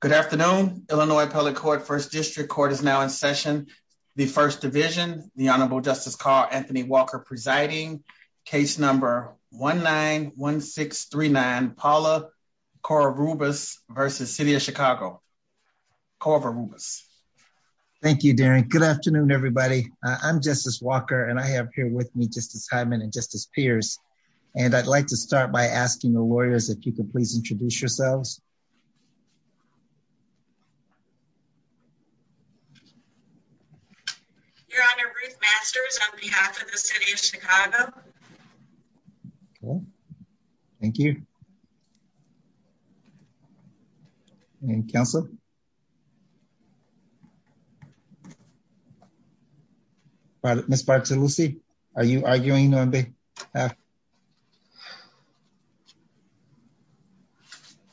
Good afternoon, Illinois Appellate Court, First District Court is now in session. The First Division, the Honorable Justice Carl Anthony Walker presiding, case number 1-9-1-6-3-9, Paula Corvarubas versus City of Chicago. Corvarubas. Thank you, Darren. Good afternoon, everybody. I'm Justice Walker, and I have here with me Justice Hyman and Justice Pierce. And I'd like to start by asking the lawyers if you could please introduce yourselves. Your Honor, Ruth Masters on behalf of the City of Chicago. Okay, thank you. And counsel? Ms. Bartolosi, are you arguing on behalf?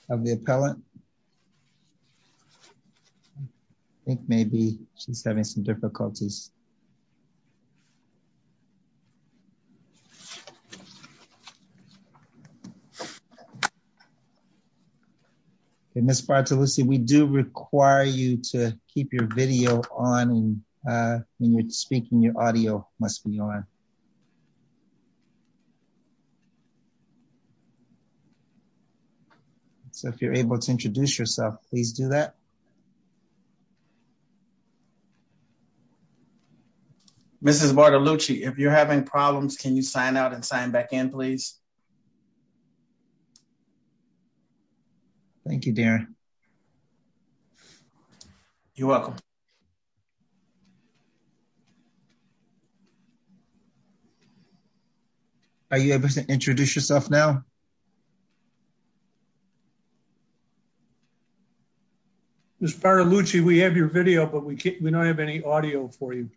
Of the appellant? I think maybe she's having some difficulties. Ms. Bartolosi, we do require you to keep your video on when you're speaking, your audio must be on. So if you're able to introduce yourself, please do that. Mrs. Bartolosi, if you're having problems, can you sign out and sign back in, please? Thank you, Darren. You're welcome. Are you able to introduce yourself now? Ms. Bartolosi, we have your video, but we don't have any audio for you.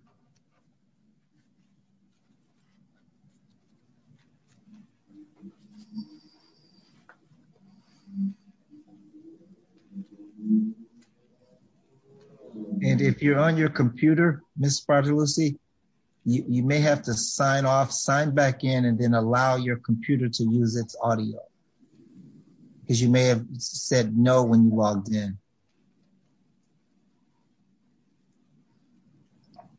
And if you're on your computer, Ms. Bartolosi, you may have to sign off, sign back in, and then allow your computer to use its audio. Because you may have said no when you logged in. Thank you.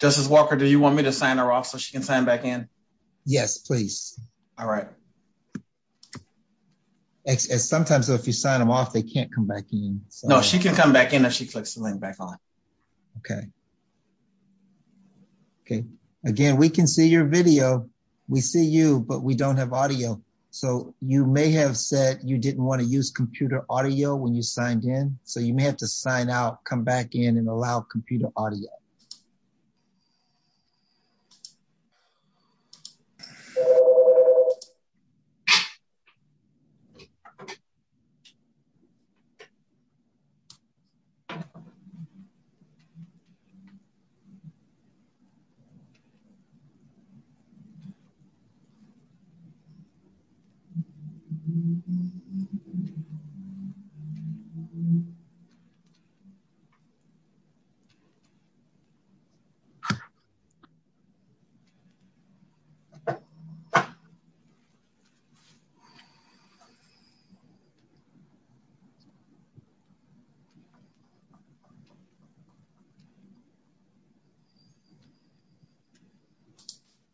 Justice Walker, do you want me to sign her off so she can sign back in? Yes, please. All right. Sometimes if you sign them off, they can't come back in. No, she can come back in if she clicks the link back on. Okay. Okay. Again, we can see your video. We see you, but we don't have audio. So you may have said you didn't want to use computer audio when you signed in. So you may have to sign out, come back in, and allow computer audio. Okay.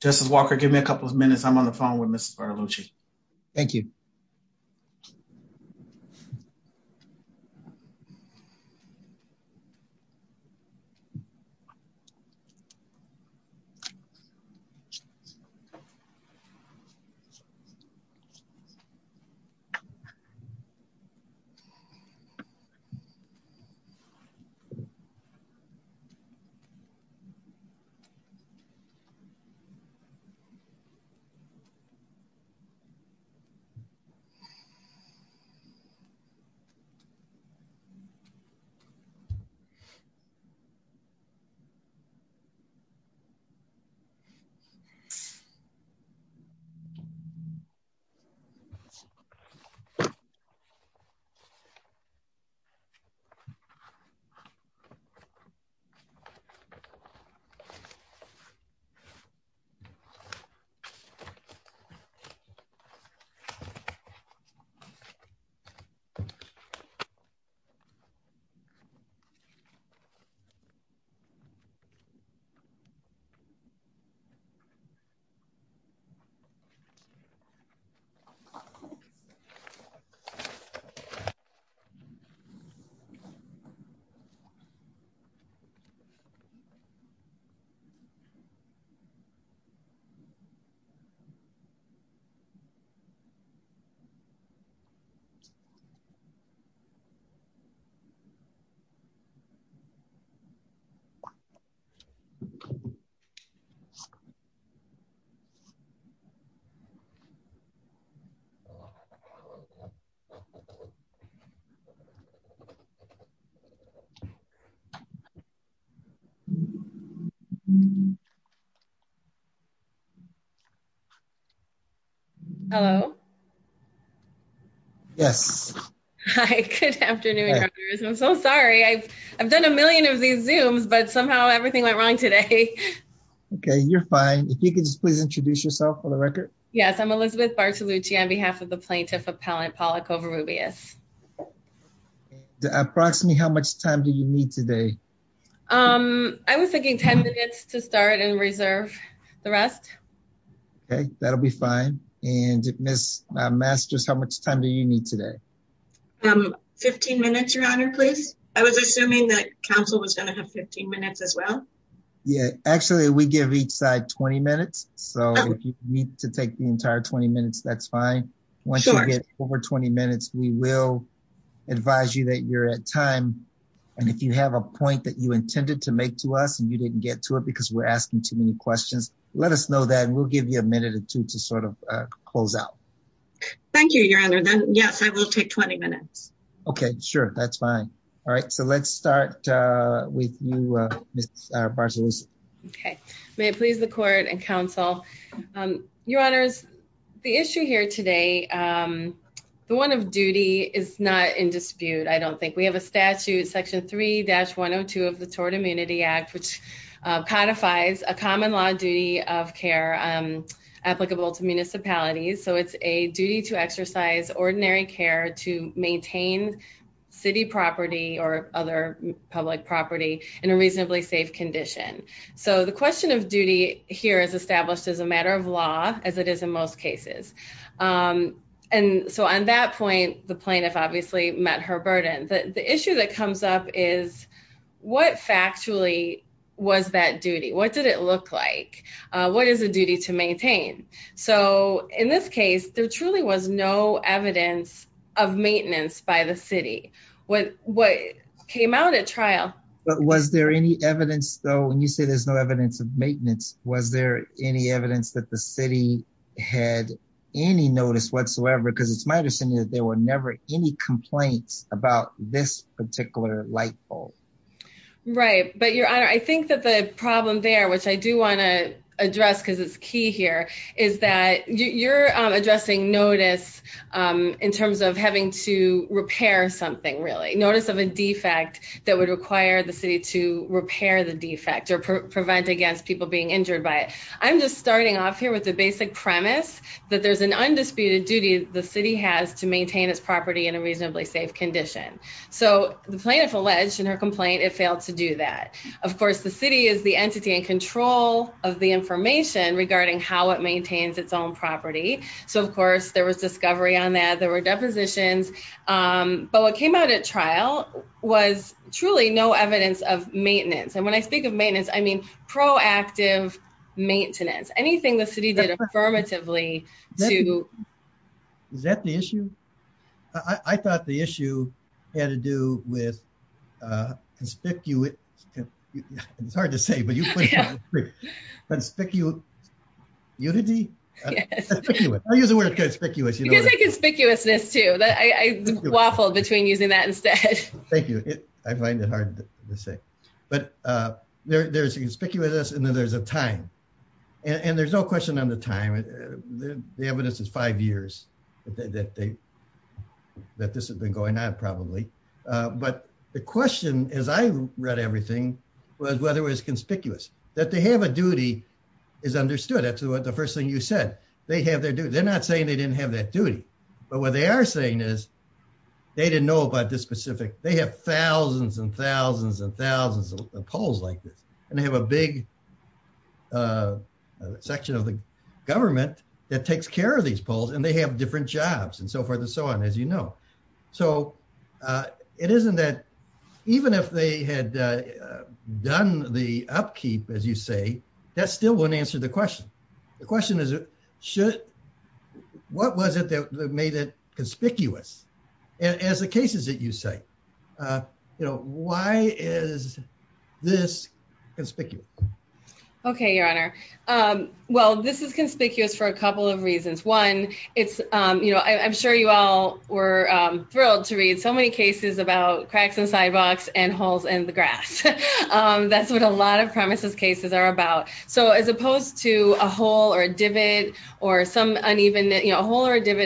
Justice Walker, give me a couple of minutes. I'm on the phone with Ms. Bartolosi. Thank you. Okay. Hello? Yes. Hi. Good afternoon. I'm so sorry. I've done a million of these Zooms, but somehow everything went wrong today. Okay. You're fine. If you could just please introduce yourself for the record. Yes. I'm Elizabeth Bartolosi on behalf of the Plaintiff Appellant, Paula Covarrubias. Approximately how much time do you need today? I was thinking 10 minutes to start and reserve the rest. Okay. That'll be fine. And Ms. Masters, how much time do you need today? 15 minutes, Your Honor, please. I was assuming that counsel was going to have 15 minutes as well. Yeah. Actually, we give each side 20 minutes. So if you need to take the entire 20 minutes, that's fine. Once you get over 20 minutes, we will advise you that you're at time. And if you have a point that you intended to make to us and you didn't get to it because we're asking too many questions, let us know that and we'll give you a minute or two to sort of close out. Thank you, Your Honor. Yes, I will take 20 minutes. Okay. Sure. That's fine. All right. So let's start with you, Ms. Bartolosi. Okay. May it please the court and counsel. Your Honors, the issue here today, the one of duty is not in dispute, I don't think. We have a statute, Section 3-102 of the Tort Immunity Act, which codifies a common law duty of care applicable to municipalities. So it's a duty to exercise ordinary care to maintain city property or other public property in a reasonably safe condition. So the question of duty here is established as a matter of law, as it is in most cases. And so on that point, the plaintiff obviously met her burden. The issue that comes up is what factually was that duty? What did it look like? What is the duty to maintain? So in this case, there truly was no evidence of maintenance by the city. What came out at trial- But was there any evidence though, when you say there's no evidence of maintenance, was there any evidence that the city had any notice whatsoever? Because it's my understanding that there were never any complaints about this particular light bulb. Right. But Your Honor, I think that the problem there, which I do want to address because it's key here, is that you're addressing notice in terms of having to repair something, really. Notice of a defect that would require the city to repair the defect or prevent against people being injured by it. I'm just starting off here with the basic premise that there's an undisputed duty the city has to maintain its property in a reasonably safe condition. So the plaintiff alleged in her complaint, it failed to do that. Of course, the city is the entity in control of the information regarding how it maintains its own property. So of course, there was discovery on that. There were depositions. But what came out at trial was truly no evidence of maintenance. And when I speak of maintenance, I mean proactive maintenance. Anything the city did affirmatively to... Is that the issue? I thought the issue had to do with conspicuous... It's hard to say, but you put it on the screen. Conspicuous unity? Conspicuous. I'll use the word conspicuous. You can say conspicuousness too. I waffled between using that instead. Thank you. I find it hard to say. But there's conspicuousness and then there's a time. And there's no question on the time. The evidence is five years that this has been going on, probably. But the question, as I read everything, was whether it was conspicuous. That they have a duty is understood. That's the first thing you said. They have their duty. They're not saying they didn't have that duty. But what they are saying is they didn't know about this specific. They have thousands and thousands and thousands of polls like this. And they have a big section of the government that takes care of these polls and they have different jobs and so forth and so on, as you know. So it isn't that... Even if they had done the upkeep, as you say, that still wouldn't answer the question. The question is, what was it that made it conspicuous as the cases that you say? Why is this conspicuous? Okay, Your Honor. Well, this is conspicuous for a couple of reasons. One, I'm sure you all were thrilled to read so many cases about cracks in sidewalks and holes in the grass. That's what a lot of premises cases are about. So as opposed to a hole or a divot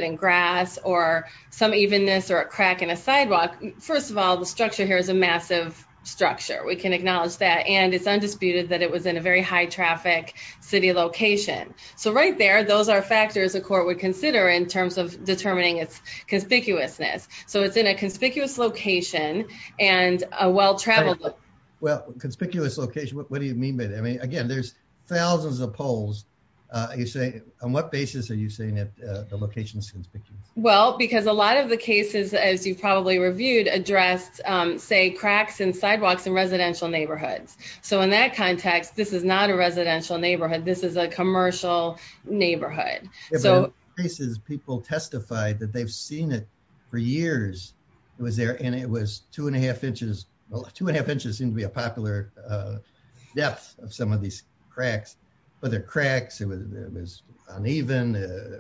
in grass or some evenness or a crack in a sidewalk, first of all, the structure here is a massive structure. We can acknowledge that. And it's undisputed that it was in a very high traffic city location. So right there, those are factors a court would consider in terms of determining its conspicuousness. So it's in a conspicuous location and a well-traveled location. Well, conspicuous location, what do you mean by that? I mean, again, there's thousands of polls. On what basis are you saying that the location is conspicuous? Well, because a lot of the cases, as you've probably reviewed, addressed, say, cracks in sidewalks in residential neighborhoods. So in that context, this is not a residential neighborhood. This is a commercial neighborhood. In a lot of cases, people testified that they've seen it for years. It was there and it was two and a half inches. Well, two and a half inches seemed to be a popular depth of some of these cracks. But the cracks, it was uneven.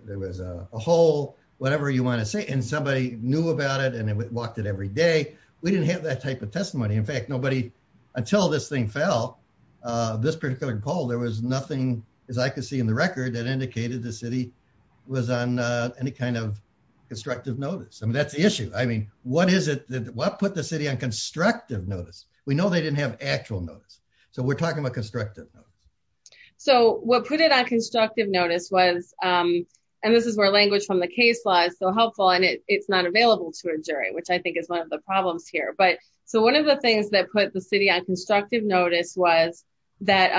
There was a hole, whatever you want to say. And somebody knew about it and walked it every day. We didn't have that type of testimony. In fact, nobody, until this thing fell, this particular poll, there was no evidence. That's the issue. What put the city on constructive notice? We know they didn't have actual notice. So we're talking about constructive notice. So what put it on constructive notice was, and this is where language from the case law is so helpful, and it's not available to a jury, which I think is one of the problems here. But so one of the things that put the city on constructive notice was that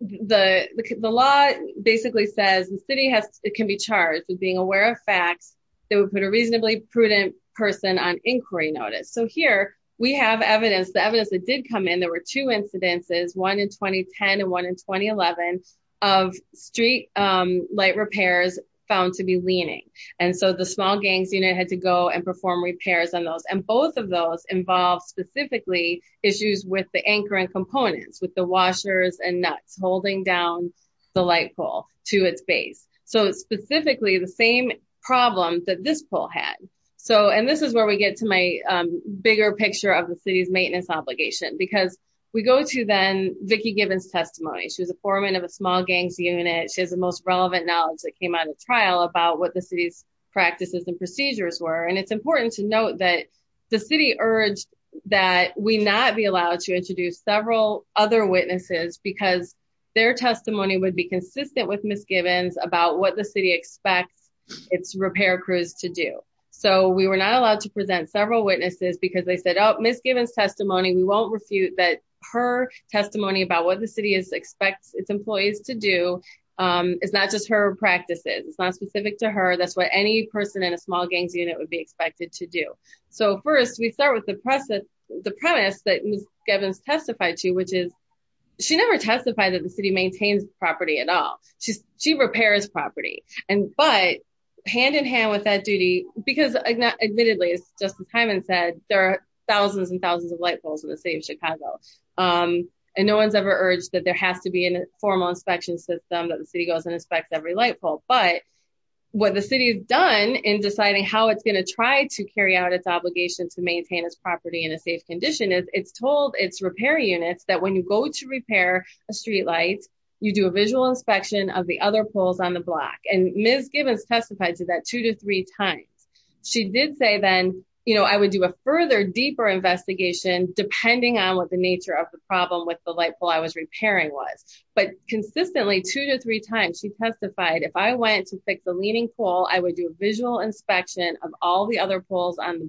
the law basically says the city can be charged with being aware of prudent person on inquiry notice. So here we have evidence. The evidence that did come in, there were two incidences, one in 2010 and one in 2011 of street light repairs found to be leaning. And so the small gangs unit had to go and perform repairs on those. And both of those involved specifically issues with the anchoring components, with the washers and nuts holding down the light pole to its base. So it's specifically the same problem that this poll had. So, and this is where we get to my bigger picture of the city's maintenance obligation, because we go to then Vicki Gibbons testimony. She was a foreman of a small gangs unit. She has the most relevant knowledge that came out of trial about what the city's practices and procedures were. And it's important to note that the city urged that we not be allowed to introduce several other witnesses because their testimony would be consistent with Ms. Gibbons about what the city expects its repair crews to do. So we were not allowed to present several witnesses because they said, oh, Ms. Gibbons testimony, we won't refute that her testimony about what the city expects its employees to do is not just her practices. It's not specific to her. That's what any person in a small gangs unit would be expected to do. So first we start with the premise that Ms. Gibbons testified to, which is she never testified that the city maintains property at all. She repairs property. And, but hand in hand with that duty, because admittedly, as Justice Hyman said, there are thousands and thousands of light poles in the city of Chicago. And no one's ever urged that there has to be a formal inspection system that the city goes and inspects every light pole. But what the city has done in deciding how it's going to try to carry out its obligation to repair units, that when you go to repair a street light, you do a visual inspection of the other poles on the block. And Ms. Gibbons testified to that two to three times. She did say then, you know, I would do a further deeper investigation depending on what the nature of the problem with the light pole I was repairing was, but consistently two to three times she testified. If I went to fix the leaning pole, I would do a visual inspection of all the other poles on the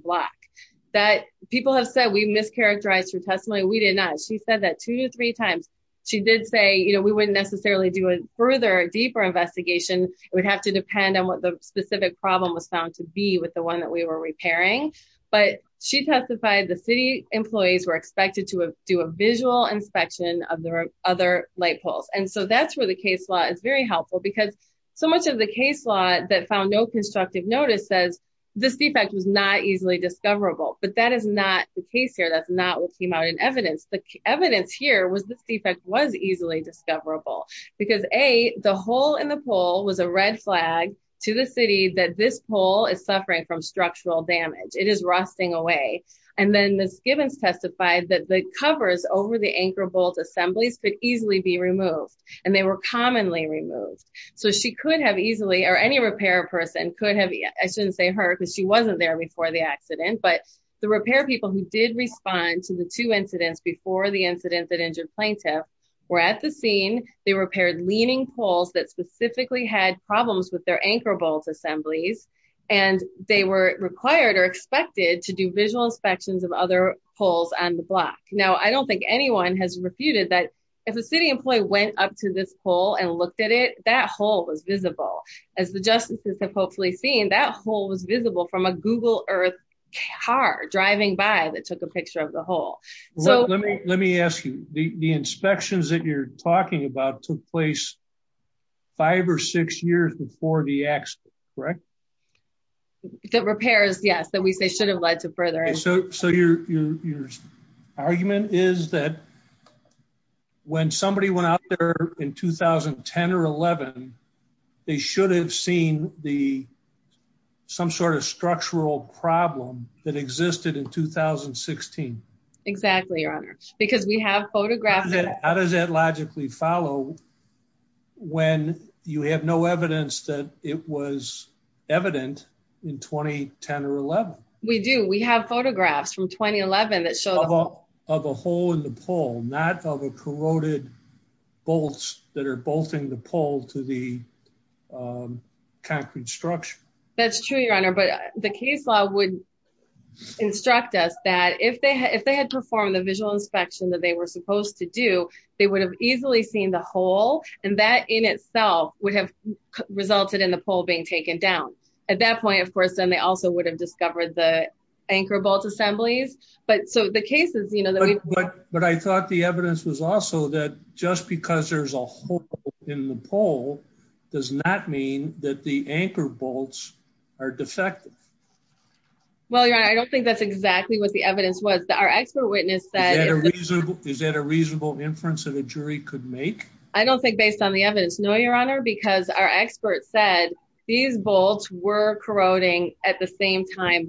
She said that two to three times. She did say, you know, we wouldn't necessarily do a further, deeper investigation. It would have to depend on what the specific problem was found to be with the one that we were repairing. But she testified the city employees were expected to do a visual inspection of their other light poles. And so that's where the case law is very helpful because so much of the case law that found no constructive notice says this defect was not easily discoverable. But that is not the case here. That's not what came out in evidence. The evidence here was this defect was easily discoverable because A, the hole in the pole was a red flag to the city that this pole is suffering from structural damage. It is rusting away. And then Ms. Gibbons testified that the covers over the anchor bolt assemblies could easily be removed and they were commonly removed. So she could have easily, or any repair person I shouldn't say her because she wasn't there before the accident, but the repair people who did respond to the two incidents before the incident that injured plaintiff were at the scene. They repaired leaning poles that specifically had problems with their anchor bolt assemblies. And they were required or expected to do visual inspections of other poles on the block. Now, I don't think anyone has refuted that if a city employee went up to this pole and looked at it, that hole was visible as the justices have hopefully seen that hole was visible from a Google earth car driving by that took a picture of the hole. So let me, let me ask you the inspections that you're talking about took place five or six years before the accident, correct? The repairs. Yes. That we say should have led to further. So your, your argument is that when somebody went out there in 2010 or 11, they should have seen the some sort of structural problem that existed in 2016. Exactly. Your honor, because we have photographs. How does that logically follow when you have no evidence that it was evident in 2010 or 11? We do. We have photographs from 2011 that showed up of a hole in the pole, not of a corroded bolts that are bolting the pole to the concrete structure. That's true, your honor, but the case law would instruct us that if they had, if they had performed the visual inspection that they were supposed to do, they would have easily seen the hole. And that in itself would have resulted in the pole being taken down at that point. Of course, then they also would have discovered the anchor bolt assemblies, but so the cases, you know, but I thought the evidence was also that just because there's a hole in the pole does not mean that the anchor bolts are defective. Well, your honor, I don't think that's exactly what the evidence was that our expert witness said. Is that a reasonable inference that a jury could make? I don't think based on the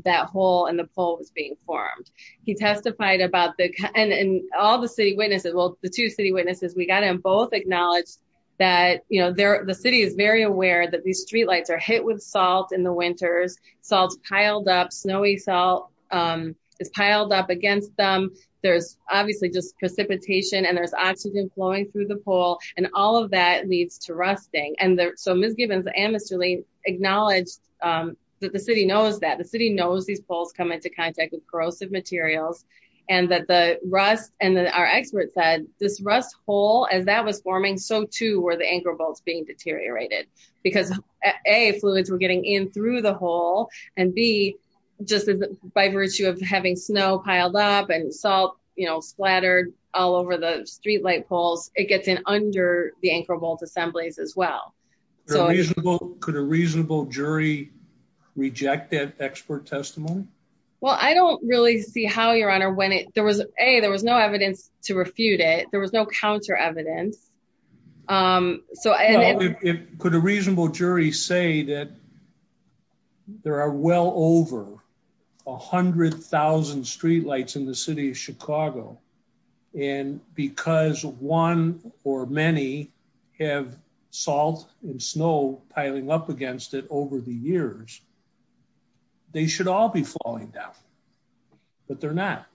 that hole in the pole was being formed. He testified about the, and all the city witnesses, well, the two city witnesses, we got to both acknowledge that, you know, the city is very aware that these streetlights are hit with salt in the winters, salt's piled up, snowy salt is piled up against them. There's obviously just precipitation and there's oxygen flowing through the pole and all of that leads to rusting. And so Ms. Gibbons and Mr. Lane acknowledged that the city knows that the city knows these poles come into contact with corrosive materials and that the rust and our expert said this rust hole, as that was forming, so too were the anchor bolts being deteriorated because A, fluids were getting in through the hole and B, just by virtue of having snow piled up and salt, you know, splattered all over the streetlight it gets in under the anchor bolt assemblies as well. So could a reasonable jury reject that expert testimony? Well, I don't really see how your honor when it, there was a, there was no evidence to refute it. There was no counter evidence. Um, so could a reasonable jury say that there are well over a hundred thousand streetlights in the city of Chicago and because one or many have salt and snow piling up against it over the years, they should all be falling down, but they're not.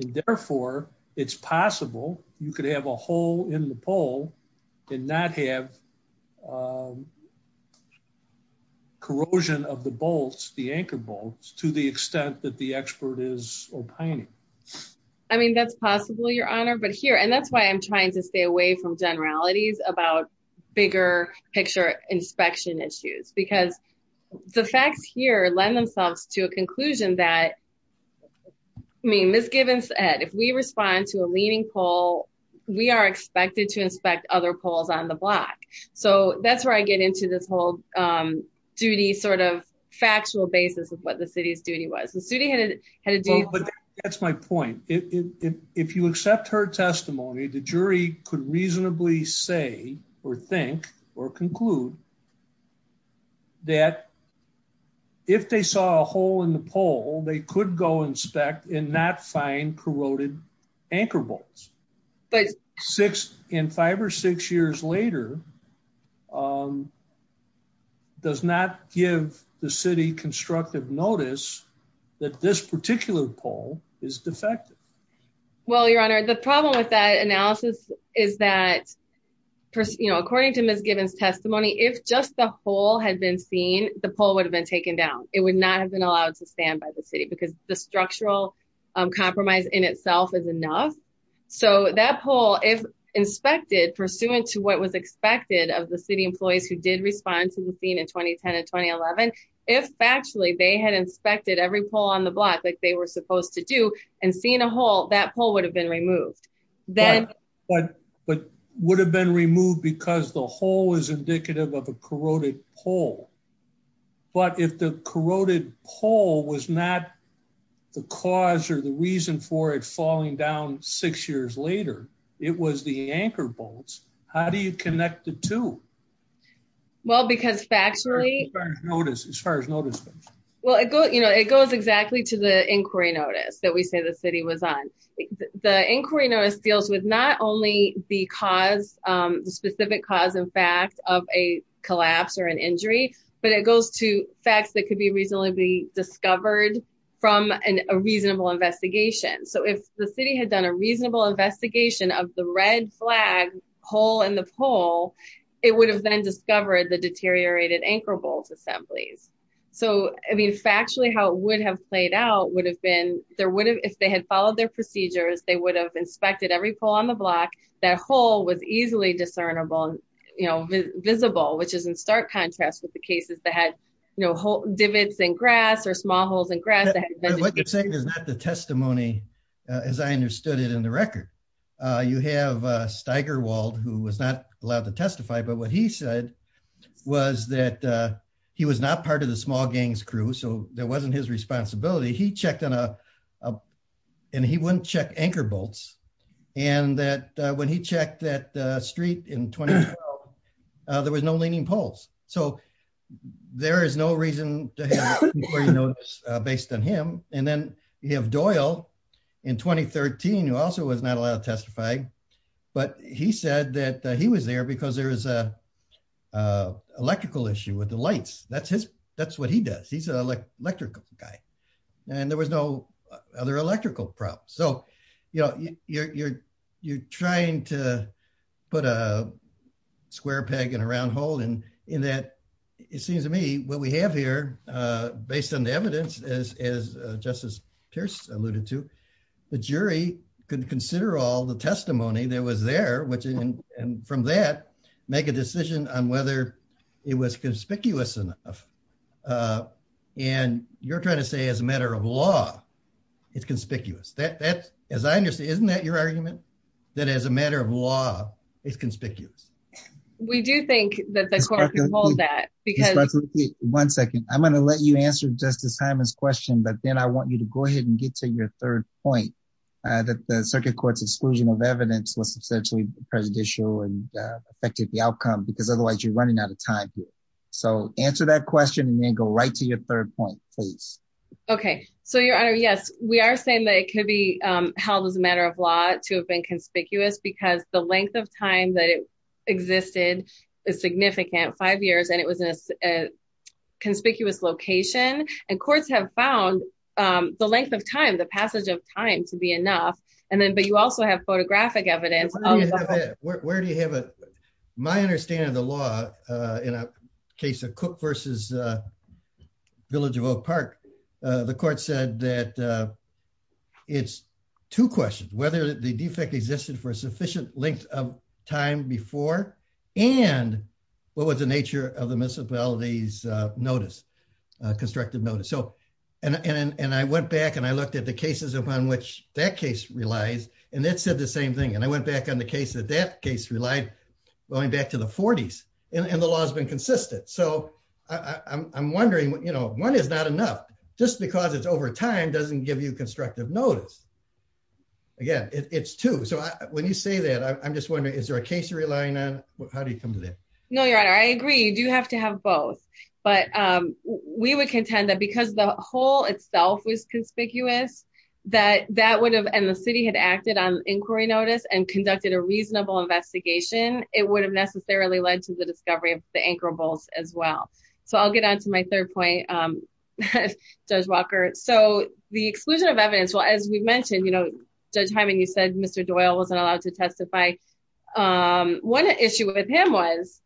And therefore it's possible you could have a hole in the pole and not have, um, corrosion of the bolts, the anchor bolts to the extent that the your honor, but here, and that's why I'm trying to stay away from generalities about bigger picture inspection issues because the facts here lend themselves to a conclusion that, I mean, Ms. Gibbons said, if we respond to a leaning pole, we are expected to inspect other poles on the block. So that's where I get into this whole, um, duty sort of factual basis of what the city's point is. If you accept her testimony, the jury could reasonably say or think or conclude that if they saw a hole in the pole, they could go inspect and not find corroded anchor bolts, but six in five or six years later, um, does not give the city constructive notice that this particular pole is defective. Well, your honor, the problem with that analysis is that, you know, according to Ms. Gibbons testimony, if just the whole had been seen, the pole would have been taken down. It would not have been allowed to stand by the city because the structural compromise in itself is enough. So that pole, if inspected pursuant to what was expected of the city employees who did respond to the scene in 2010 and 2011, if factually they had inspected every pole on the block like they were supposed to do and seen a hole, that pole would have been removed. But would have been removed because the hole is indicative of a corroded pole. But if the corroded pole was not the cause or the reason for it falling down six years later, it was the anchor bolts. How do you connect the two? Well, because factually, as far as notice goes. Well, it goes, you know, it goes exactly to the inquiry notice that we say the city was on. The inquiry notice deals with not only the cause, um, the specific cause and fact of a collapse or an injury, but it goes to facts that could be reasonably discovered from a reasonable investigation. So if the city had done a reasonable investigation of the red flag hole in 2011, it would have then discovered the deteriorated anchor bolt assemblies. So, I mean, factually how it would have played out would have been, there would have, if they had followed their procedures, they would have inspected every pole on the block. That hole was easily discernible, you know, visible, which is in stark contrast with the cases that had, you know, hole divots in grass or small holes in grass. What you're saying is not the testimony as I understood it in the record. You have Steigerwald who was not allowed to testify, but what he said was that he was not part of the small gangs crew, so that wasn't his responsibility. He checked on a, and he wouldn't check anchor bolts, and that when he checked that street in 2012, there was no leaning poles. So there is no reason to have an inquiry notice based on him. And then you have Doyle in 2013, who also was not allowed to testify, but he said that he was there because there was a electrical issue with the lights. That's what he does. He's an electrical guy, and there was no other electrical problem. So, you know, you're trying to put a square peg in a round hole, and in that, it seems to me, what we have here, based on the evidence, as Justice Pierce alluded to, the jury could consider all the testimony that was there, which, and from that, make a decision on whether it was conspicuous enough. And you're trying to say as a matter of law, it's conspicuous. That, as I understand, isn't that your argument? That as a matter of law, it's conspicuous. We do think that the court can hold that. One second. I'm going to let you answer Justice Hyman's question, but then I want you to go ahead and get to your third point, that the circuit court's exclusion of evidence was substantially presidential and affected the outcome, because otherwise, you're running out of time here. So answer that question, and then go right to your third point, please. Okay. So, Your Honor, yes, we are saying that it could be held as a matter of law to have been conspicuous because the length of time that it and courts have found the length of time, the passage of time to be enough. And then, but you also have photographic evidence. Where do you have it? My understanding of the law, in a case of Cook versus Village of Oak Park, the court said that it's two questions, whether the defect existed for a sufficient length of time before, and what was the nature of the municipalities' notice, constructive notice. So, and I went back and I looked at the cases upon which that case relies, and it said the same thing. And I went back on the case that that case relied, going back to the 40s, and the law has been consistent. So I'm wondering, one is not enough, just because it's over time doesn't give you constructive notice. Again, it's two. So when you say that, I'm just wondering, is there a case you're relying on? How do you come to that? No, Your Honor, I agree. You do have to have both. But we would contend that because the whole itself was conspicuous, that that would have, and the city had acted on inquiry notice and conducted a reasonable investigation, it would have necessarily led to the discovery of the anchor bolts as well. So I'll get on to my third point, Judge Walker. So the exclusion of evidence, well, as we've mentioned, you know, Judge Hyman, you said Mr. Doyle wasn't allowed to testify. One issue with him was,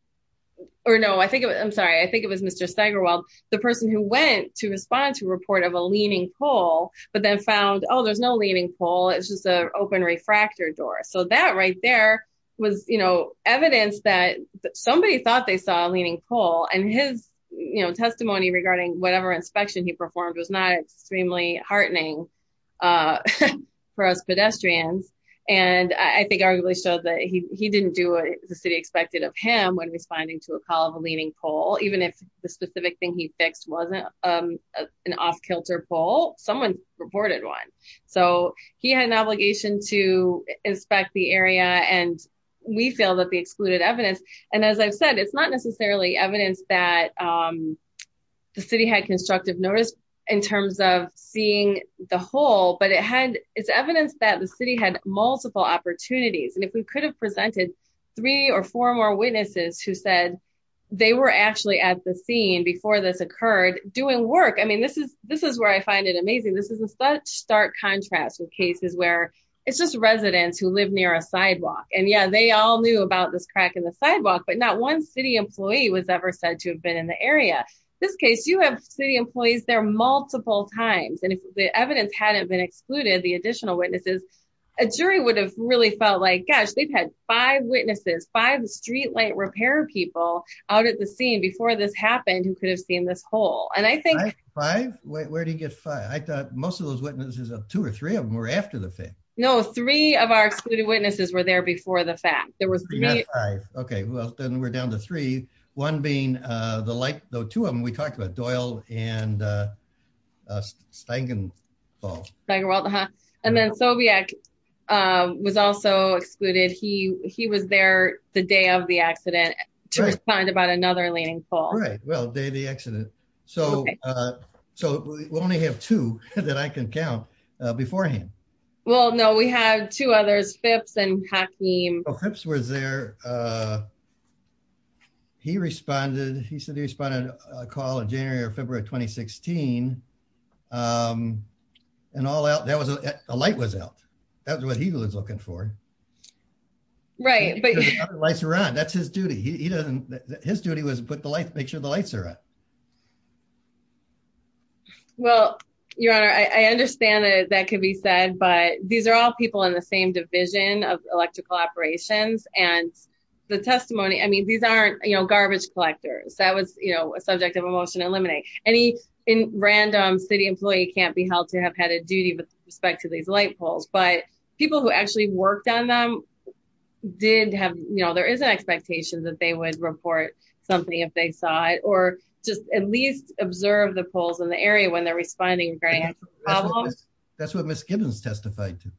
or no, I think it was, I'm sorry, I think it was Mr. Steigerwald, the person who went to respond to a report of a leaning pole, but then found, oh, there's no leaning pole, it's just a open refractor door. So that right there was, you know, evidence that somebody thought they saw a leaning pole and his, you know, testimony regarding whatever inspection he performed was not extremely heartening for us pedestrians. And I think arguably showed that he didn't do what the city expected of him when responding to a call of a leaning pole, even if the specific thing he fixed wasn't an off kilter pole, someone reported one. So he had an obligation to inspect the area. And we feel that the excluded evidence, and as I've said, it's not necessarily evidence that the city had constructive notice in terms of seeing the whole, but it had, it's evidence that the city had multiple opportunities. And if we could have presented three or four more witnesses who said they were actually at the scene before this occurred doing work. I mean, this is where I find it amazing. This is a such stark contrast with cases where it's just residents who live near a sidewalk. And yeah, they all knew about this crack in the sidewalk, but not one city employee was ever said to have been in the area. This case, you have city employees there multiple times. And if the evidence hadn't been excluded, the additional witnesses, a jury would have really felt like, gosh, they've had five witnesses, five streetlight repair people out at the scene before this happened, who could have seen this hole. And I think five, where do you get five? I thought most of those witnesses of two or three of them were after the thing. No, three of our excluded witnesses were there before the fact there Okay. Well, then we're down to three, one being the light though. Two of them, we talked about Doyle and Steigenwald. Steigenwald, huh? And then Soviec was also excluded. He was there the day of the accident to respond about another leaning fall. Right. Well, day of the accident. So, so we only have two that I can count beforehand. Well, no, we have two others, Phipps and Hakeem. Oh, Phipps was there. He responded, he said he responded a call in January or February of 2016. And all out there was a light was out. That was what he was looking for. Right. Lights are on. That's his duty. He doesn't, his duty was put the light, make sure the lights are on. Well, your honor, I understand that could be said, but these are all people in the same division of electrical operations and the testimony, I mean, these aren't, you know, garbage collectors that was, you know, a subject of emotion to eliminate any random city employee can't be held to have had a duty with respect to these light poles, but people who actually worked on them did have, you know, there is an expectation that they would report something if they saw it, or just at least observe the poles in the area when they're responding. That's what Ms. Gibbons testified to.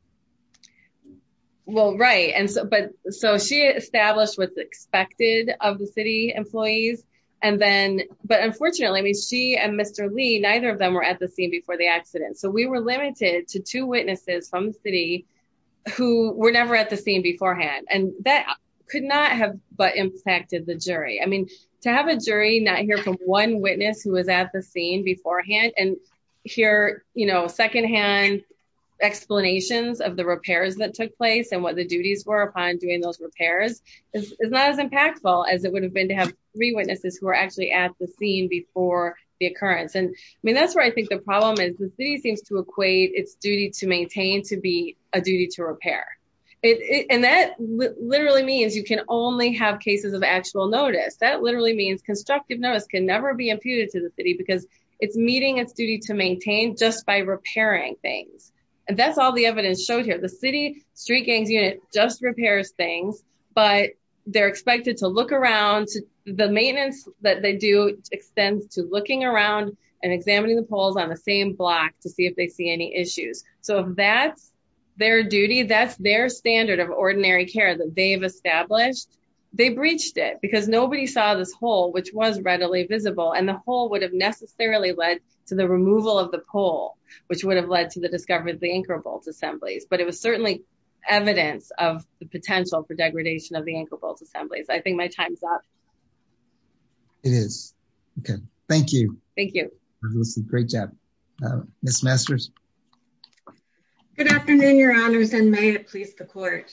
Well, right. And so, but so she established what's expected of the city employees. And then, but unfortunately, I mean, she and Mr. Lee, neither of them were at the scene before the accident. So we were limited to two witnesses from the city who were never at the scene beforehand, and that could not have, but impacted the jury. I mean, to have a jury not hear from one witness who was at the scene beforehand, and hear, you know, secondhand explanations of the repairs that took place and what the duties were upon doing those repairs is not as impactful as it would have been to have three witnesses who were actually at the scene before the occurrence. And I mean, that's where I think the problem is, the city seems to equate its duty to maintain to be a duty to repair. And that literally means you can only have cases of actual notice. That literally means constructive notice can never be imputed to the city, because it's meeting its duty to maintain just by repairing things. And that's all the evidence showed here. The city street gangs unit just repairs things, but they're expected to look around the maintenance that they do extends to looking around and examining the poles on the same block to see if they see any issues. So that's their duty. That's their standard of ordinary care that they've established. They breached it because nobody saw this hole, which was readily visible, and the hole would have necessarily led to the removal of the pole, which would have led to the discovery of the anchor bolts assemblies, but it was certainly evidence of the potential for degradation of the anchor bolts assemblies. I think my time's up. It is. Okay. Thank you. Thank you. Great job. Miss Masters. Good afternoon, your honors and may it please the court.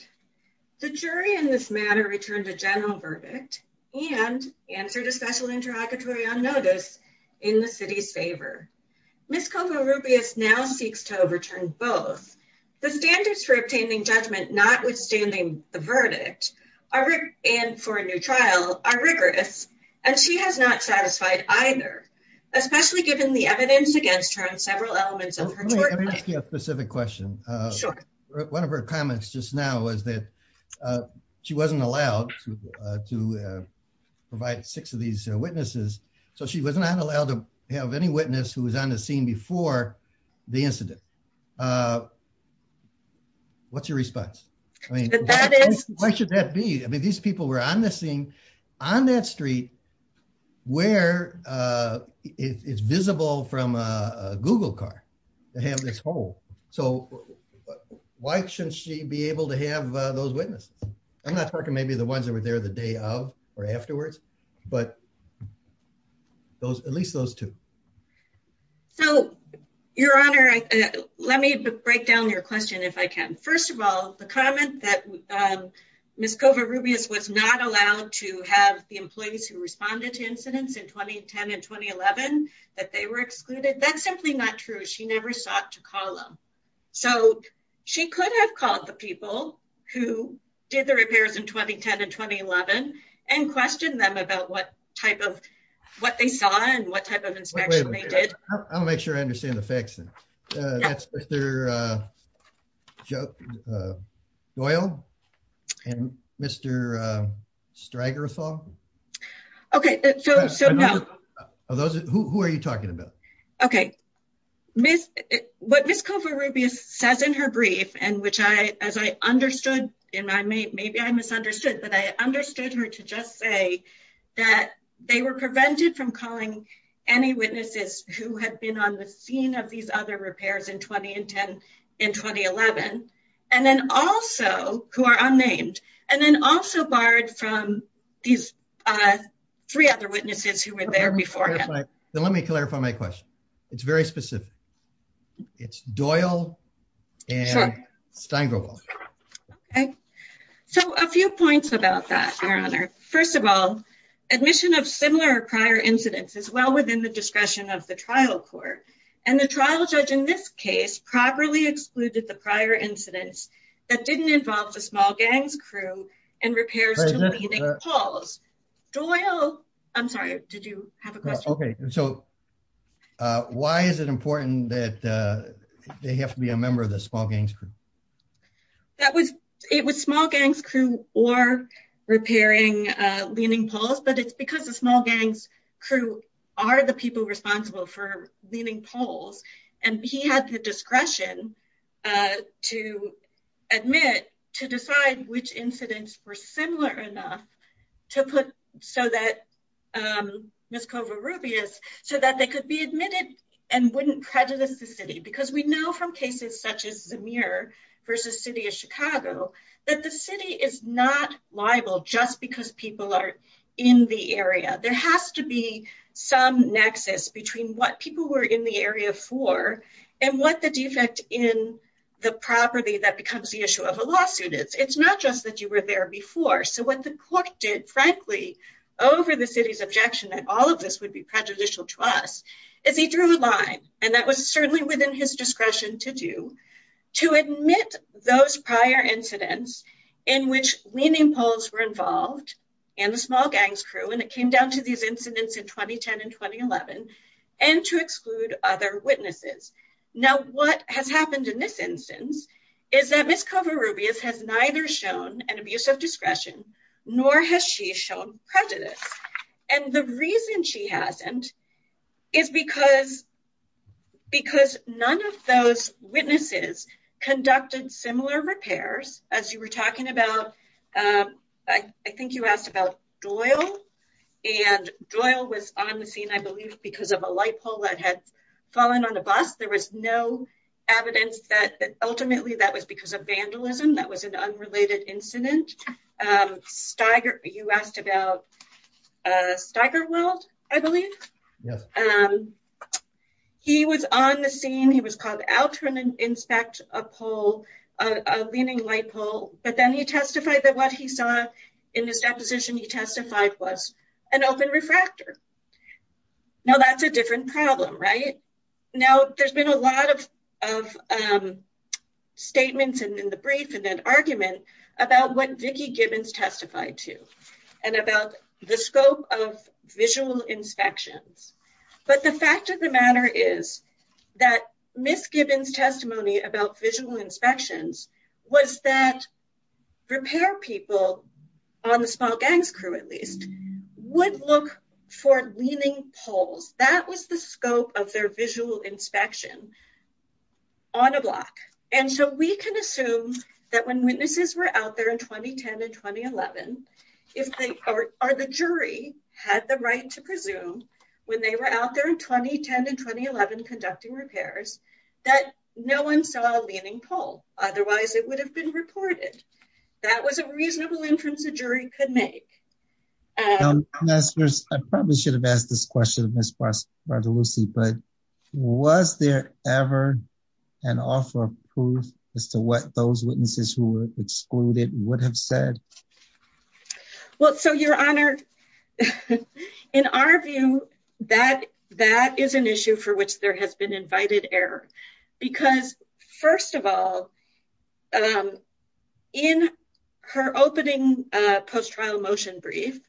The jury in this matter returned a verdict and answered a special interrogatory on notice in the city's favor. Miss Kovarubias now seeks to overturn both the standards for obtaining judgment notwithstanding the verdict and for a new trial are rigorous, and she has not satisfied either, especially given the evidence against her on several elements of her short life. Let me ask you a specific question. One of her witnesses was not allowed to provide six of these witnesses, so she was not allowed to have any witness who was on the scene before the incident. What's your response? I mean, why should that be? I mean, these people were on the scene on that street where it's visible from a Google car to have this hole. So why shouldn't she be able to have those witnesses? I'm not talking maybe the ones that were there the day of or afterwards, but those, at least those two. So your honor, let me break down your question if I can. First of all, the comment that Miss Kovarubias was not allowed to have the employees who responded to incidents in 2010 and 2011, that they were sought to call them. So she could have called the people who did the repairs in 2010 and 2011 and questioned them about what type of what they saw and what type of inspection they did. I'll make sure I understand the facts. That's Mr. Doyle and Mr. Strygerthal. Okay, so who are you talking about? Okay, what Miss Kovarubias says in her brief, and which I, as I understood, and maybe I misunderstood, but I understood her to just say that they were prevented from calling any witnesses who had been on the scene of these other repairs in 2010 and 2011, and then also who are unnamed, and then also barred from these three other witnesses who were there before. Then let me clarify my question. It's very specific. It's Doyle and Strygerthal. Okay, so a few points about that, your honor. First of all, admission of similar or prior incidents is well within the discretion of the trial court, and the trial judge in this case properly excluded the prior incidents that didn't involve the small gangs crew and repairs to leaning poles. Doyle, I'm sorry, did you have a question? Okay, so why is it important that they have to be a member of the small gangs crew? That was, it was small gangs crew or repairing leaning poles, but it's because the small gangs crew are the people responsible for leaning poles, and he had the discretion to admit, to decide which incidents were similar enough to put so that, Ms. Covarrubias, so that they could be admitted and wouldn't prejudice the city, because we know from cases such as Zemir versus City of Chicago that the city is not liable just because people are in the area. There has to be some nexus between what people were in the area for and what the defect in the property that becomes the issue of a lawsuit is. It's not just that you were there before, so what the court did, frankly, over the city's objection that all of this would be prejudicial to us, is he drew a line, and that was certainly within his discretion to do, to admit those prior incidents in which leaning poles were involved and the small gangs crew, it came down to these incidents in 2010 and 2011, and to exclude other witnesses. Now, what has happened in this instance is that Ms. Covarrubias has neither shown an abuse of discretion, nor has she shown prejudice, and the reason she hasn't is because, because none of those witnesses conducted similar repairs, as you were talking about, I think you asked about Doyle, and Doyle was on the scene, I believe, because of a light pole that had fallen on a bus. There was no evidence that ultimately that was because of vandalism, that was an unrelated incident. Steiger, you asked about Steigerwald, I believe. Yes. He was on the scene, he was called out to inspect a pole, a leaning light pole, but then he testified that what he saw in this deposition he testified was an open refractor. Now, that's a different problem, right? Now, there's been a lot of statements in the brief and that argument about what Vicki Gibbons testified to, and about the scope of visual inspections, but the fact of the matter is that Ms. Gibbons' testimony about visual inspections was that repair people, on the small gangs crew at least, would look for leaning poles. That was the scope of their visual inspection on a block, and so we can assume that when witnesses were out there in 2010 and 2011, if they, or the jury had the right to presume when they were out there in 2010, otherwise it would have been reported. That was a reasonable inference a jury could make. I probably should have asked this question of Ms. Bartolussi, but was there ever an offer of proof as to what those witnesses who were excluded would have said? Well, so your honor, in our view, that is an issue for which there has been invited error, because first of all, in her opening post-trial motion brief,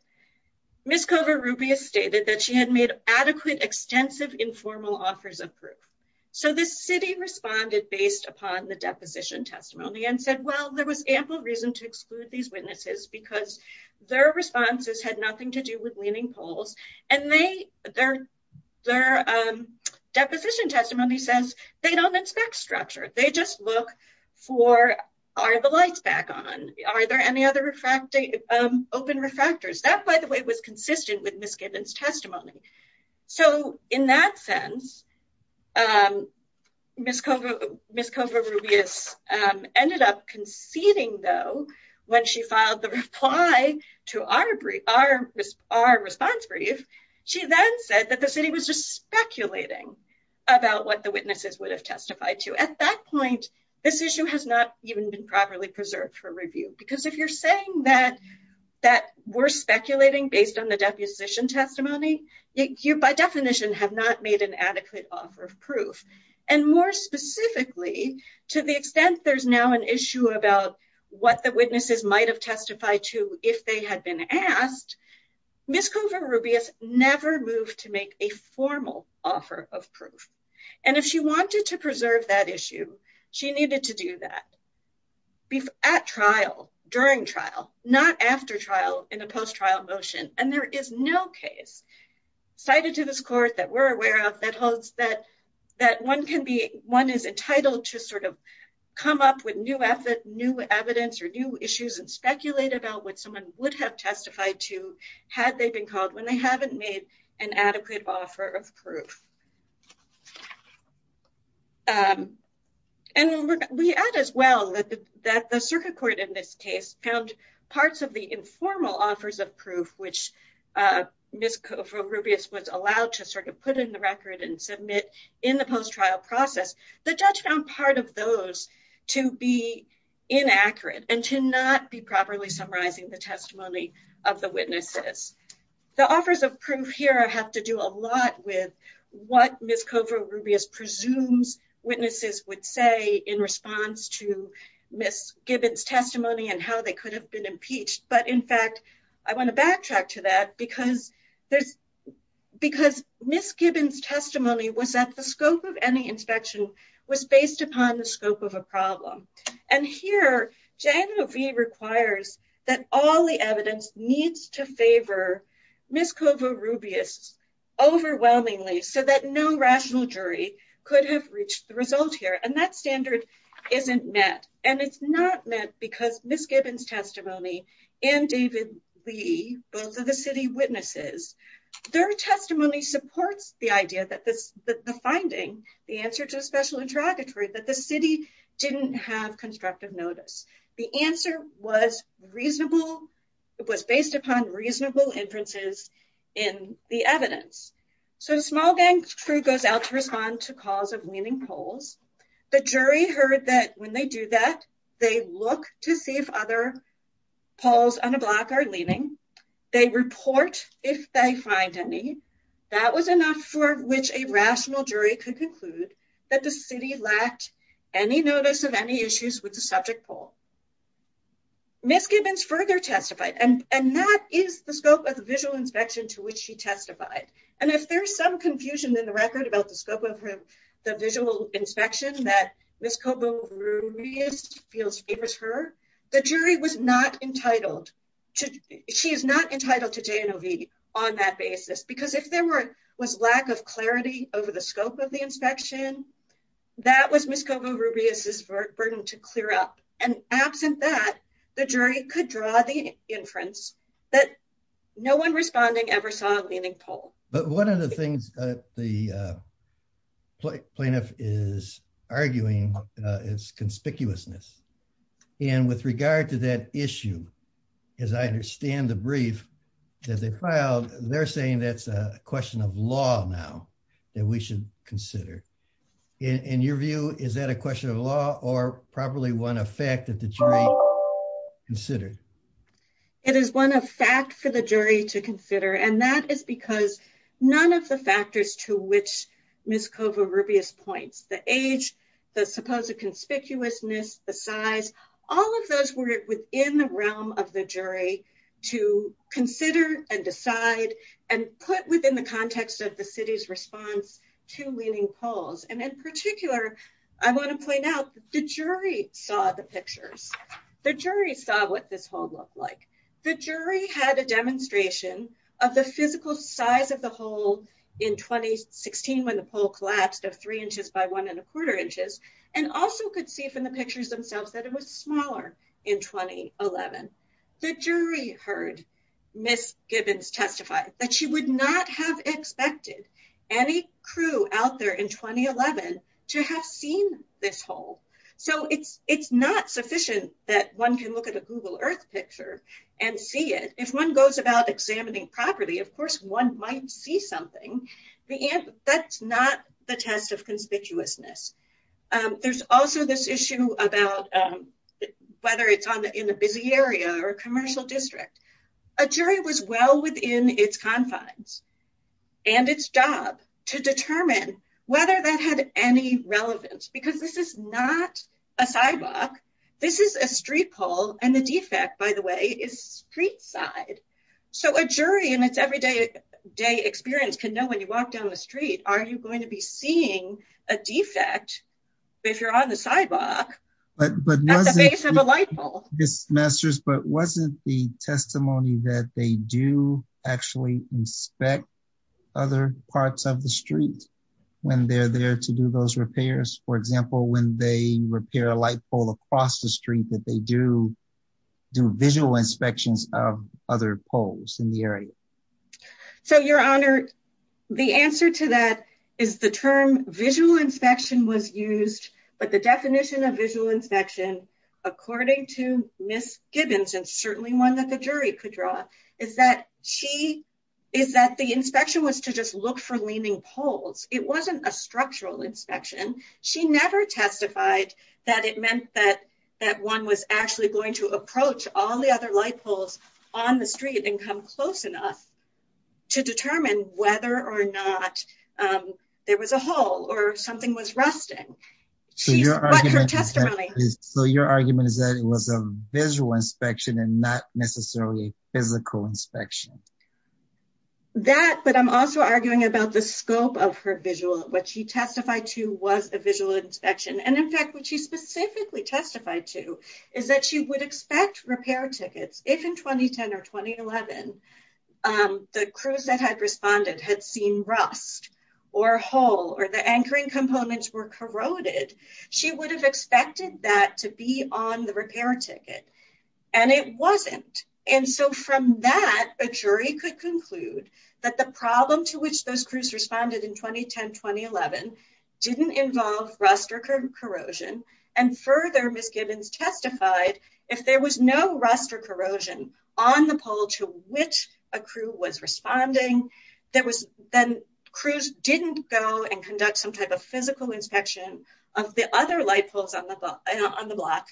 Ms. Kovar-Rubias stated that she had made adequate extensive informal offers of proof, so the city responded based upon the deposition testimony and said, well, there was ample reason to exclude these witnesses because their responses had nothing to do with leaning poles, and their deposition testimony says they don't inspect structure. They just look for, are the lights back on? Are there any other open refractors? That, by the way, was consistent with Ms. Gibbons' testimony, so in that sense, Ms. Kovar-Rubias ended up conceding, though, when she filed the reply to our response brief. She then said that the city was just speculating about what the witnesses would have testified to. At that point, this issue has not even been properly preserved for review, because if you're saying that we're speculating based on the deposition testimony, you by definition have not made an adequate offer of proof, and more specifically, to the extent there's now an issue about what the witnesses might have testified to if they had been asked, Ms. Kovar-Rubias never moved to make a formal offer of proof, and if she wanted to preserve that issue, she needed to do that at trial, during trial, not after trial in a post-trial motion, and there is no case cited to this court that we're aware of that holds that one can be, one is entitled to sort of come up with new evidence or new issues and speculate about what someone would have testified to had they been called when they haven't made an adequate offer of proof. And we add, as well, that the circuit court in this case found parts of the informal offers of proof, which Ms. Kovar-Rubias was allowed to sort of put in the record and submit in the post-trial process, the judge found part of those to be inaccurate and to not be properly summarizing the testimony of the witnesses. The offers of proof here have to do a lot with what Ms. Kovar-Rubias presumes witnesses would say in response to Ms. Gibbons' testimony and how they could have been impeached, but in fact, I want to backtrack to that because Ms. Gibbons' testimony was at the was based upon the scope of a problem. And here, JANOV requires that all the evidence needs to favor Ms. Kovar-Rubias overwhelmingly so that no rational jury could have reached the result here, and that standard isn't met. And it's not met because Ms. Gibbons' testimony and David Lee, both of the city witnesses, their testimony supports the idea that the finding, the answer to a special interrogatory, that the city didn't have constructive notice. The answer was reasonable, it was based upon reasonable inferences in the evidence. So a small gang crew goes out to respond to calls of leaning poles. The jury heard that when they do that, they look to see if other poles on a block are leaning. They report if they find any. That was enough for which a rational jury could conclude that the city lacked any notice of any issues with the subject pole. Ms. Gibbons further testified, and that is the scope of the visual inspection to which she testified. And if there's some confusion in the record about the scope of the visual inspection that Ms. Kovar-Rubias feels favors her, the jury was not entitled, she is not entitled to J&OV on that basis. Because if there was lack of clarity over the scope of the inspection, that was Ms. Kovar-Rubias' burden to clear up. And absent that, the jury could draw the inference that no one responding ever saw a leaning pole. But one of the things the plaintiff is arguing is conspicuousness. And with regard to that issue, as I understand the brief that they filed, they're saying that's a question of law now that we should consider. In your view, is that a question of law or probably one of fact that the jury considered? It is one of fact for the jury to consider. And that is because none of the factors to which Ms. Kovar-Rubias points, the age, the supposed conspicuousness, the size, all of those were within the realm of the jury to consider and decide and put within the context of the city's response to leaning poles. And in particular, I want to point out the jury saw the pictures. The jury saw what this hole looked like. The jury had a demonstration of the physical size of the collapsed of three inches by one and a quarter inches and also could see from the pictures themselves that it was smaller in 2011. The jury heard Ms. Gibbons testify that she would not have expected any crew out there in 2011 to have seen this hole. So it's not sufficient that one can look at a Google Earth picture and see it. If one goes about examining properly, of course, one might see something. That's not the test of conspicuousness. There's also this issue about whether it's in a busy area or a commercial district. A jury was well within its confines and its job to determine whether that had any relevance because this is not a sidewalk. This is a street pole and the defect, by the way, is street side. So a jury in its everyday experience can know when you walk down the street, are you going to be seeing a defect if you're on the sidewalk at the base of a light pole? But wasn't the testimony that they do actually inspect other parts of the street when they're there to do those repairs? For example, when they repair a light pole across the street, that they do do visual inspections of other poles in the area. So your honor, the answer to that is the term visual inspection was used, but the definition of visual inspection, according to Ms. Gibbons, and certainly one that the jury could draw, is that the inspection was to just look for leaning poles. It wasn't a structural inspection. She never testified that it meant that one was actually going to approach all the other light poles on the street and come close enough to determine whether or not there was a hole or something was rusting. So your argument is that it was a visual inspection and not necessarily a physical inspection? That, but I'm also arguing about the scope of her visual, what she testified to was a visual inspection. And in fact, what she specifically testified to is that she would expect repair tickets if in 2010 or 2011, the crews that had responded had seen rust or a hole or the anchoring components were corroded, she would have expected that to be on the repair ticket. And it wasn't. And so from that, a jury could conclude that the problem to which those crews responded in 2010-2011 didn't involve rust or corrosion. And further, Ms. Gibbons testified if there was no rust or corrosion on the pole to which a crew was responding, then crews didn't go and conduct some type of physical inspection of the other light poles on the block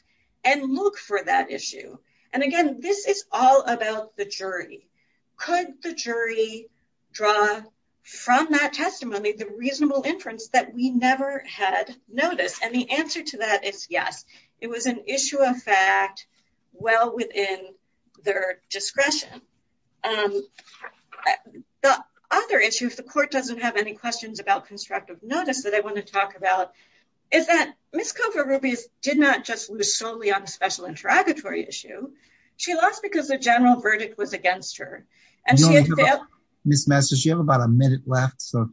and look for that issue. And again, this is all about the jury. Could the jury draw from that testimony the reasonable inference that we never had noticed? And the answer to that is yes. It was an issue of fact well within their discretion. The other issue, if the court doesn't have any questions about constructive notice that I want to talk about, is that Ms. Kovarubias did not just lose solely on a special interrogatory issue. She lost because the general verdict was if you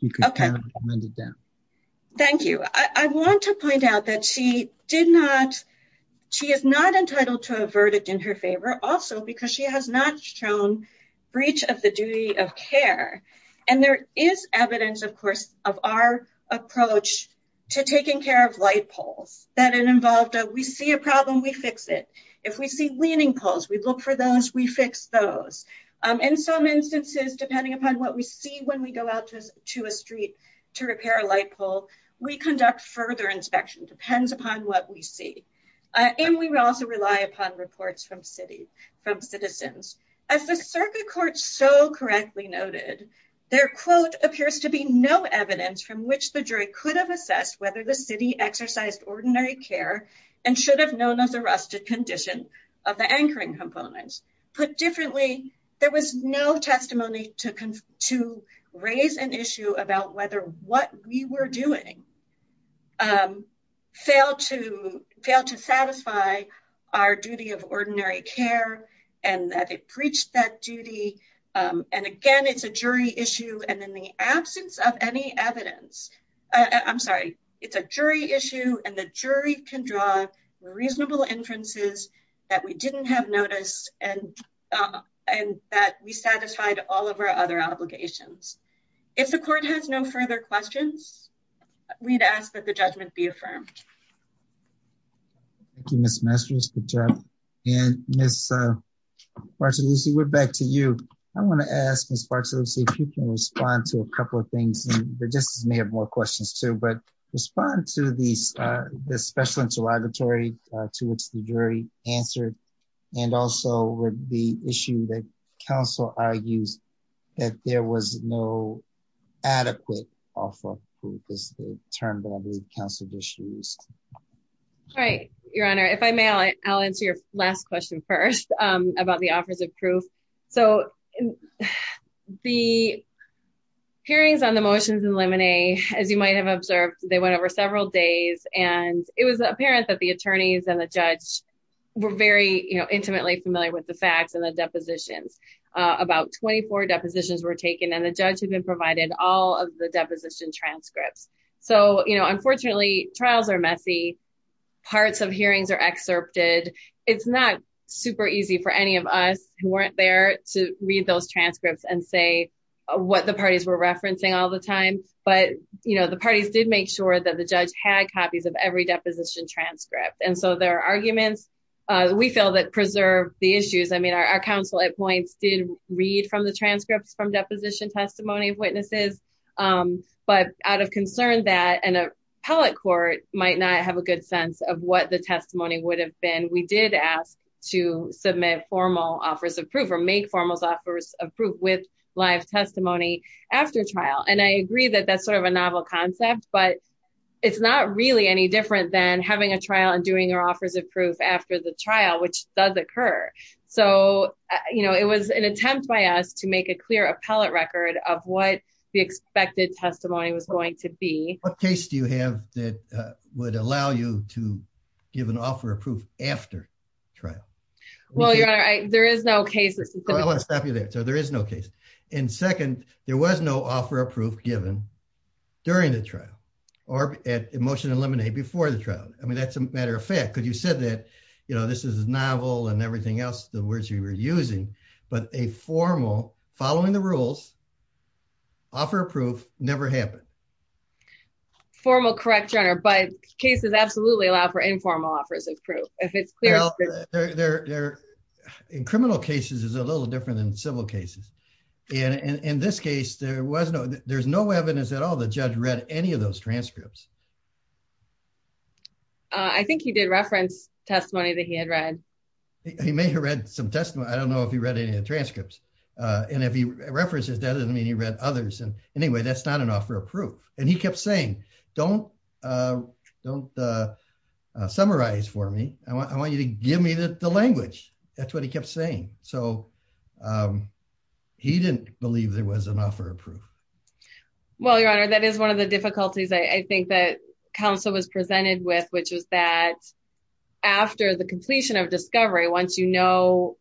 could comment on that. Thank you. I want to point out that she is not entitled to a verdict in her favor also because she has not shown breach of the duty of care. And there is evidence, of course, of our approach to taking care of light poles that involved we see a problem, we fix it. If we see leaning poles, we look for those, we fix those. In some instances, depending upon what we see when we go out to a street to repair a light pole, we conduct further inspection, depends upon what we see. And we also rely upon reports from citizens. As the circuit court so correctly noted, their quote appears to be no evidence from which the jury could have assessed whether the city exercised ordinary care and should have known of the rusted condition of the anchoring components. Put differently, there was no testimony to raise an issue about whether what we were doing failed to satisfy our duty of ordinary care and that it breached that duty. And again, it's a jury issue. And in the absence of any inferences that we didn't have noticed and that we satisfied all of our other obligations. If the court has no further questions, we'd ask that the judgment be affirmed. Thank you, Ms. Masters. Good job. And Ms. Bartolucci, we're back to you. I want to ask Ms. Bartolucci if you can respond to a couple of things, and the justices may have more questions but respond to the special interrogatory to which the jury answered and also the issue that counsel argues that there was no adequate offer of proof is the term that I believe counsel just used. Right. Your Honor, if I may, I'll answer your last question first about the offers of proof. So, the hearings on the motions in limine, as you might have observed, they went over several days and it was apparent that the attorneys and the judge were very intimately familiar with the facts and the depositions. About 24 depositions were taken and the judge had been provided all of the deposition transcripts. So, unfortunately, trials are messy. Parts of hearings are excerpted. It's not super easy for any of us who weren't there to read those transcripts and say what the parties were referencing all the time. But, you know, the parties did make sure that the judge had copies of every deposition transcript. And so, there are arguments, we feel, that preserve the issues. I mean, our counsel at points did read from the transcripts from deposition testimony of witnesses. But out of concern that an appellate court might not have a good sense of what the case was, we did ask to submit formal offers of proof or make formal offers of proof with live testimony after trial. And I agree that that's sort of a novel concept, but it's not really any different than having a trial and doing your offers of proof after the trial, which does occur. So, you know, it was an attempt by us to make a clear appellate record of what the expected testimony was going to be. What case do you have that would allow you to give an offer of proof after trial? Well, your honor, there is no case. I want to stop you there. So, there is no case. And second, there was no offer of proof given during the trial or at Emotion and Lemonade before the trial. I mean, that's a matter of fact, because you said that, you know, this is novel and everything else, the words you were using, but a formal, following the rules, offer of proof never happened. Formal, correct, your honor, but cases absolutely allow for informal offers of proof. In criminal cases, it's a little different than civil cases. In this case, there's no evidence at all that the judge read any of those transcripts. I think he did reference testimony that he had read. He may have read some testimony. I don't know if he read any of the transcripts. And if he references that, it doesn't mean he read others. And anyway, that's not an offer of proof. And he kept saying, don't summarize for me. I want you to give me the language. That's what he kept saying. So, he didn't believe there was an offer of proof. Well, your honor, that is one of the difficulties, I think, that counsel was presented with, which was that after the completion of discovery, once you know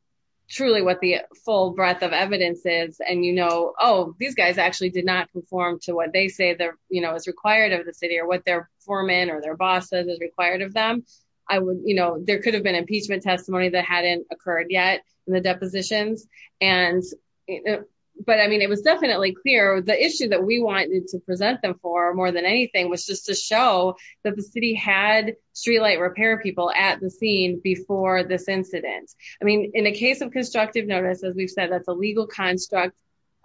truly what the full breadth of evidence is, and you know, oh, these guys actually did not conform to what they say is required of the city or what their foreman or boss said is required of them. There could have been impeachment testimony that hadn't occurred yet in the depositions. But I mean, it was definitely clear. The issue that we wanted to present them for more than anything was just to show that the city had streetlight repair people at the scene before this incident. I mean, in a case of constructive notice, as we've said, that's a legal construct,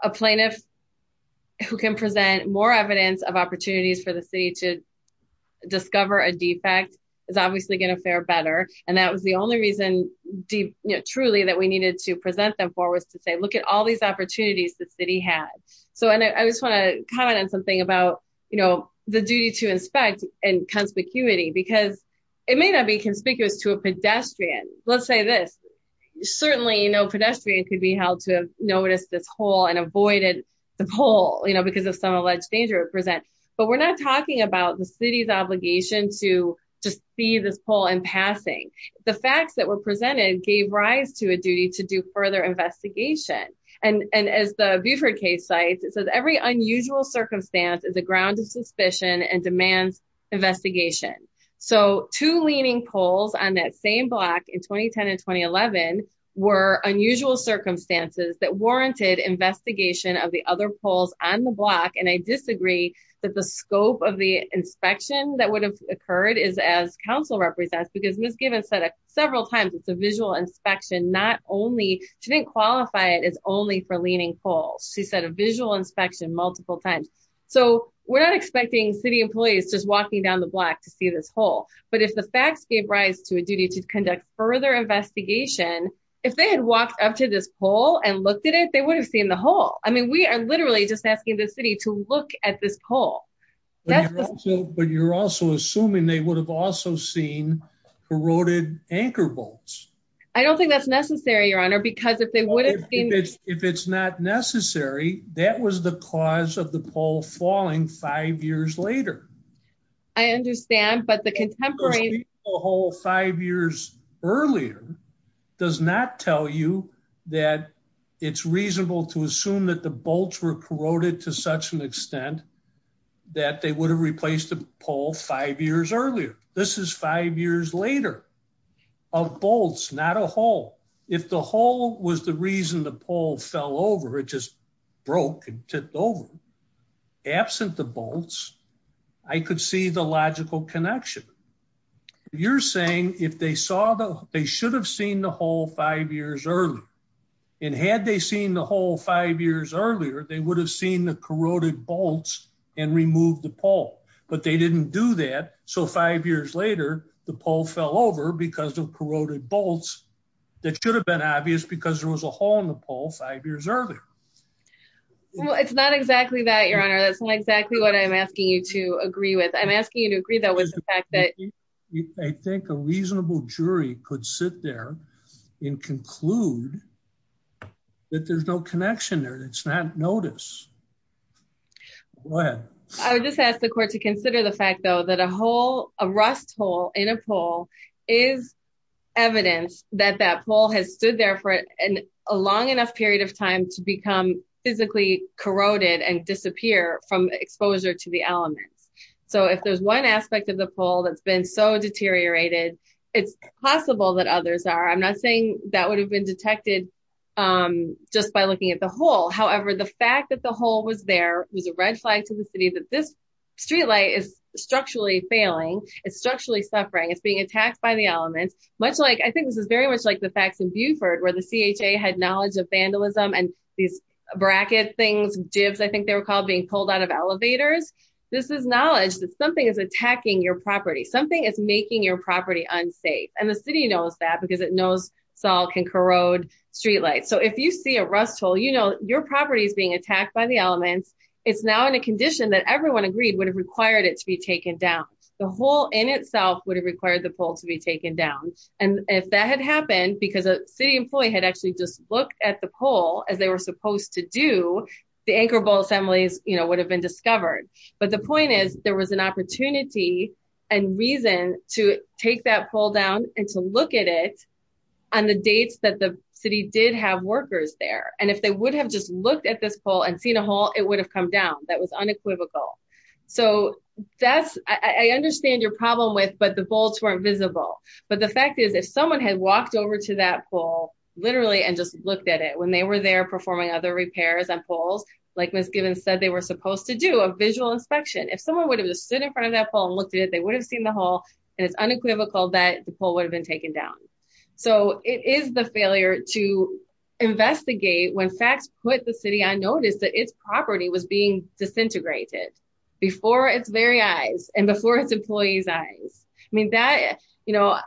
a plaintiff who can present more evidence of opportunities for the city to discover a defect is obviously going to fare better. And that was the only reason, truly, that we needed to present them for was to say, look at all these opportunities the city had. So, and I just want to comment on something about, you know, the duty to inspect and conspicuity, because it may not be conspicuous to a pedestrian. Let's say this. Certainly, you know, pedestrian could be held to have noticed this hole and avoided the pole, you know, because of some obligation to just see this poll and passing the facts that were presented gave rise to a duty to do further investigation. And as the Buford case sites, it says every unusual circumstance is a ground of suspicion and demands investigation. So two leaning poles on that same block in 2010 and 2011, were unusual circumstances that warranted investigation of the other polls on the block. And I disagree that the scope of the inspection that would have occurred is as counsel represents, because Miss Gibbons said several times, it's a visual inspection, not only didn't qualify it as only for leaning poles, she said a visual inspection multiple times. So we're not expecting city employees just walking down the block to see this hole. But if the facts gave rise to a duty to conduct further investigation, if they had walked up to this pole and looked at it, they would have seen the hole. I mean, we are literally just asking the city to look at this pole. But you're also assuming they would have also seen corroded anchor bolts. I don't think that's necessary, Your Honor, because if they wouldn't, if it's not necessary, that was the cause of the pole falling five years later. I understand, but the contemporary hole five years earlier does not tell you that it's reasonable to assume that the bolts were corroded to such an extent that they would have replaced the pole five years earlier. This is five years later of bolts, not a hole. If the hole was the reason the pole fell over, it just broke and tipped over. Absent the bolts, I could see the logical connection. You're saying if they saw the, they should have seen the hole five years earlier. And had they seen the hole five years earlier, they would have seen the corroded bolts and removed the pole, but they didn't do that. So five years later, the pole fell over because of five years earlier. Well, it's not exactly that, Your Honor. That's not exactly what I'm asking you to agree with. I'm asking you to agree that with the fact that I think a reasonable jury could sit there and conclude that there's no connection there. It's not notice. Go ahead. I would just ask the court to consider the fact though, that a hole, a rust hole in a pole is evidence that that took a long enough period of time to become physically corroded and disappear from exposure to the elements. So if there's one aspect of the pole that's been so deteriorated, it's possible that others are. I'm not saying that would have been detected just by looking at the hole. However, the fact that the hole was there was a red flag to the city that this streetlight is structurally failing. It's structurally suffering. It's being attacked by the elements. Much like, I think this is very much like the facts in Buford, where the CHA had knowledge of vandalism and these bracket things, jibs, I think they were called, being pulled out of elevators. This is knowledge that something is attacking your property. Something is making your property unsafe. And the city knows that because it knows salt can corrode streetlights. So if you see a rust hole, you know your property is being attacked by the elements. It's now in a condition that everyone agreed would have required it to be taken down. The hole in itself would have required the pole to be taken down. And if that had happened, because a city employee had actually just looked at the pole as they were supposed to do, the anchor bolt assemblies, you know, would have been discovered. But the point is there was an opportunity and reason to take that pole down and to look at it on the dates that the city did have workers there. And if they would have just looked at this pole and seen a hole, it would have come down. That was unequivocal. So that's, I understand your problem with, but the bolts weren't visible. But the fact is, if someone had walked over to that pole, literally, and just looked at it when they were there performing other repairs on poles, like Ms. Gibbons said, they were supposed to do a visual inspection. If someone would have just stood in front of that pole and looked at it, they would have seen the hole. And it's unequivocal that the pole would have been taken down. So it is the failure to investigate when facts put the city on notice that its property was being disintegrated before its very eyes and before its employees' eyes. I mean, that, you know,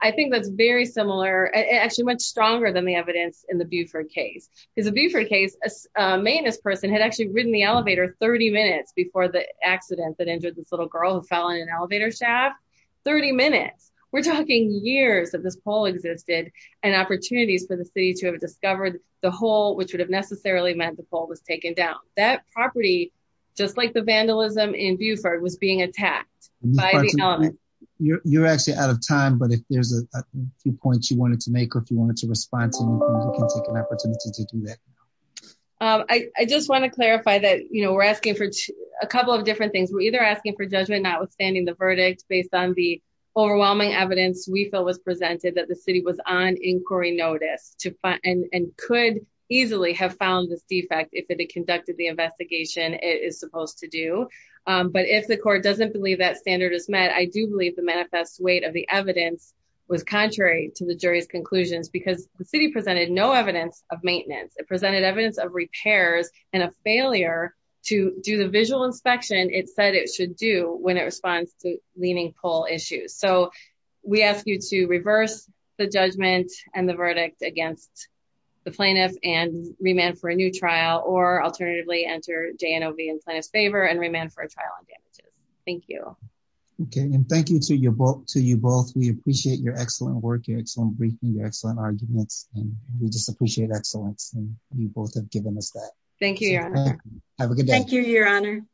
I think that's very similar, actually much stronger than the evidence in the Buford case. Because the Buford case, a maintenance person had actually ridden the elevator 30 minutes before the accident that injured this little girl who fell in an elevator shaft. 30 minutes. We're talking years that this pole existed and opportunities for the city to have discovered the hole, which would have necessarily meant the pole was taken down. That property, just like the vandalism in Buford, was being attacked. You're actually out of time, but if there's a few points you wanted to make, or if you wanted to respond to, you can take an opportunity to do that. I just want to clarify that, you know, we're asking for a couple of different things. We're either asking for judgment notwithstanding the verdict based on the overwhelming evidence we feel was presented that the city was on inquiry notice and could easily have found this defect if it had conducted the investigation it is supposed to do. But if the court doesn't believe that standard is met, I do believe the manifest weight of the evidence was contrary to the jury's conclusions because the city presented no evidence of maintenance. It presented evidence of repairs and a failure to do the visual inspection it said it should do when it responds to leaning pole issues. So we ask you to reverse the judgment and the verdict against the plaintiff and remand for a new trial or alternatively enter JNOV in plaintiff's favor and remand for a trial on damages. Thank you. Okay and thank you to you both. We appreciate your excellent work, your excellent briefing, your excellent arguments, and we just appreciate excellence and you both have given us that. Thank you, your honor. Have a good day. Thank you, your honor.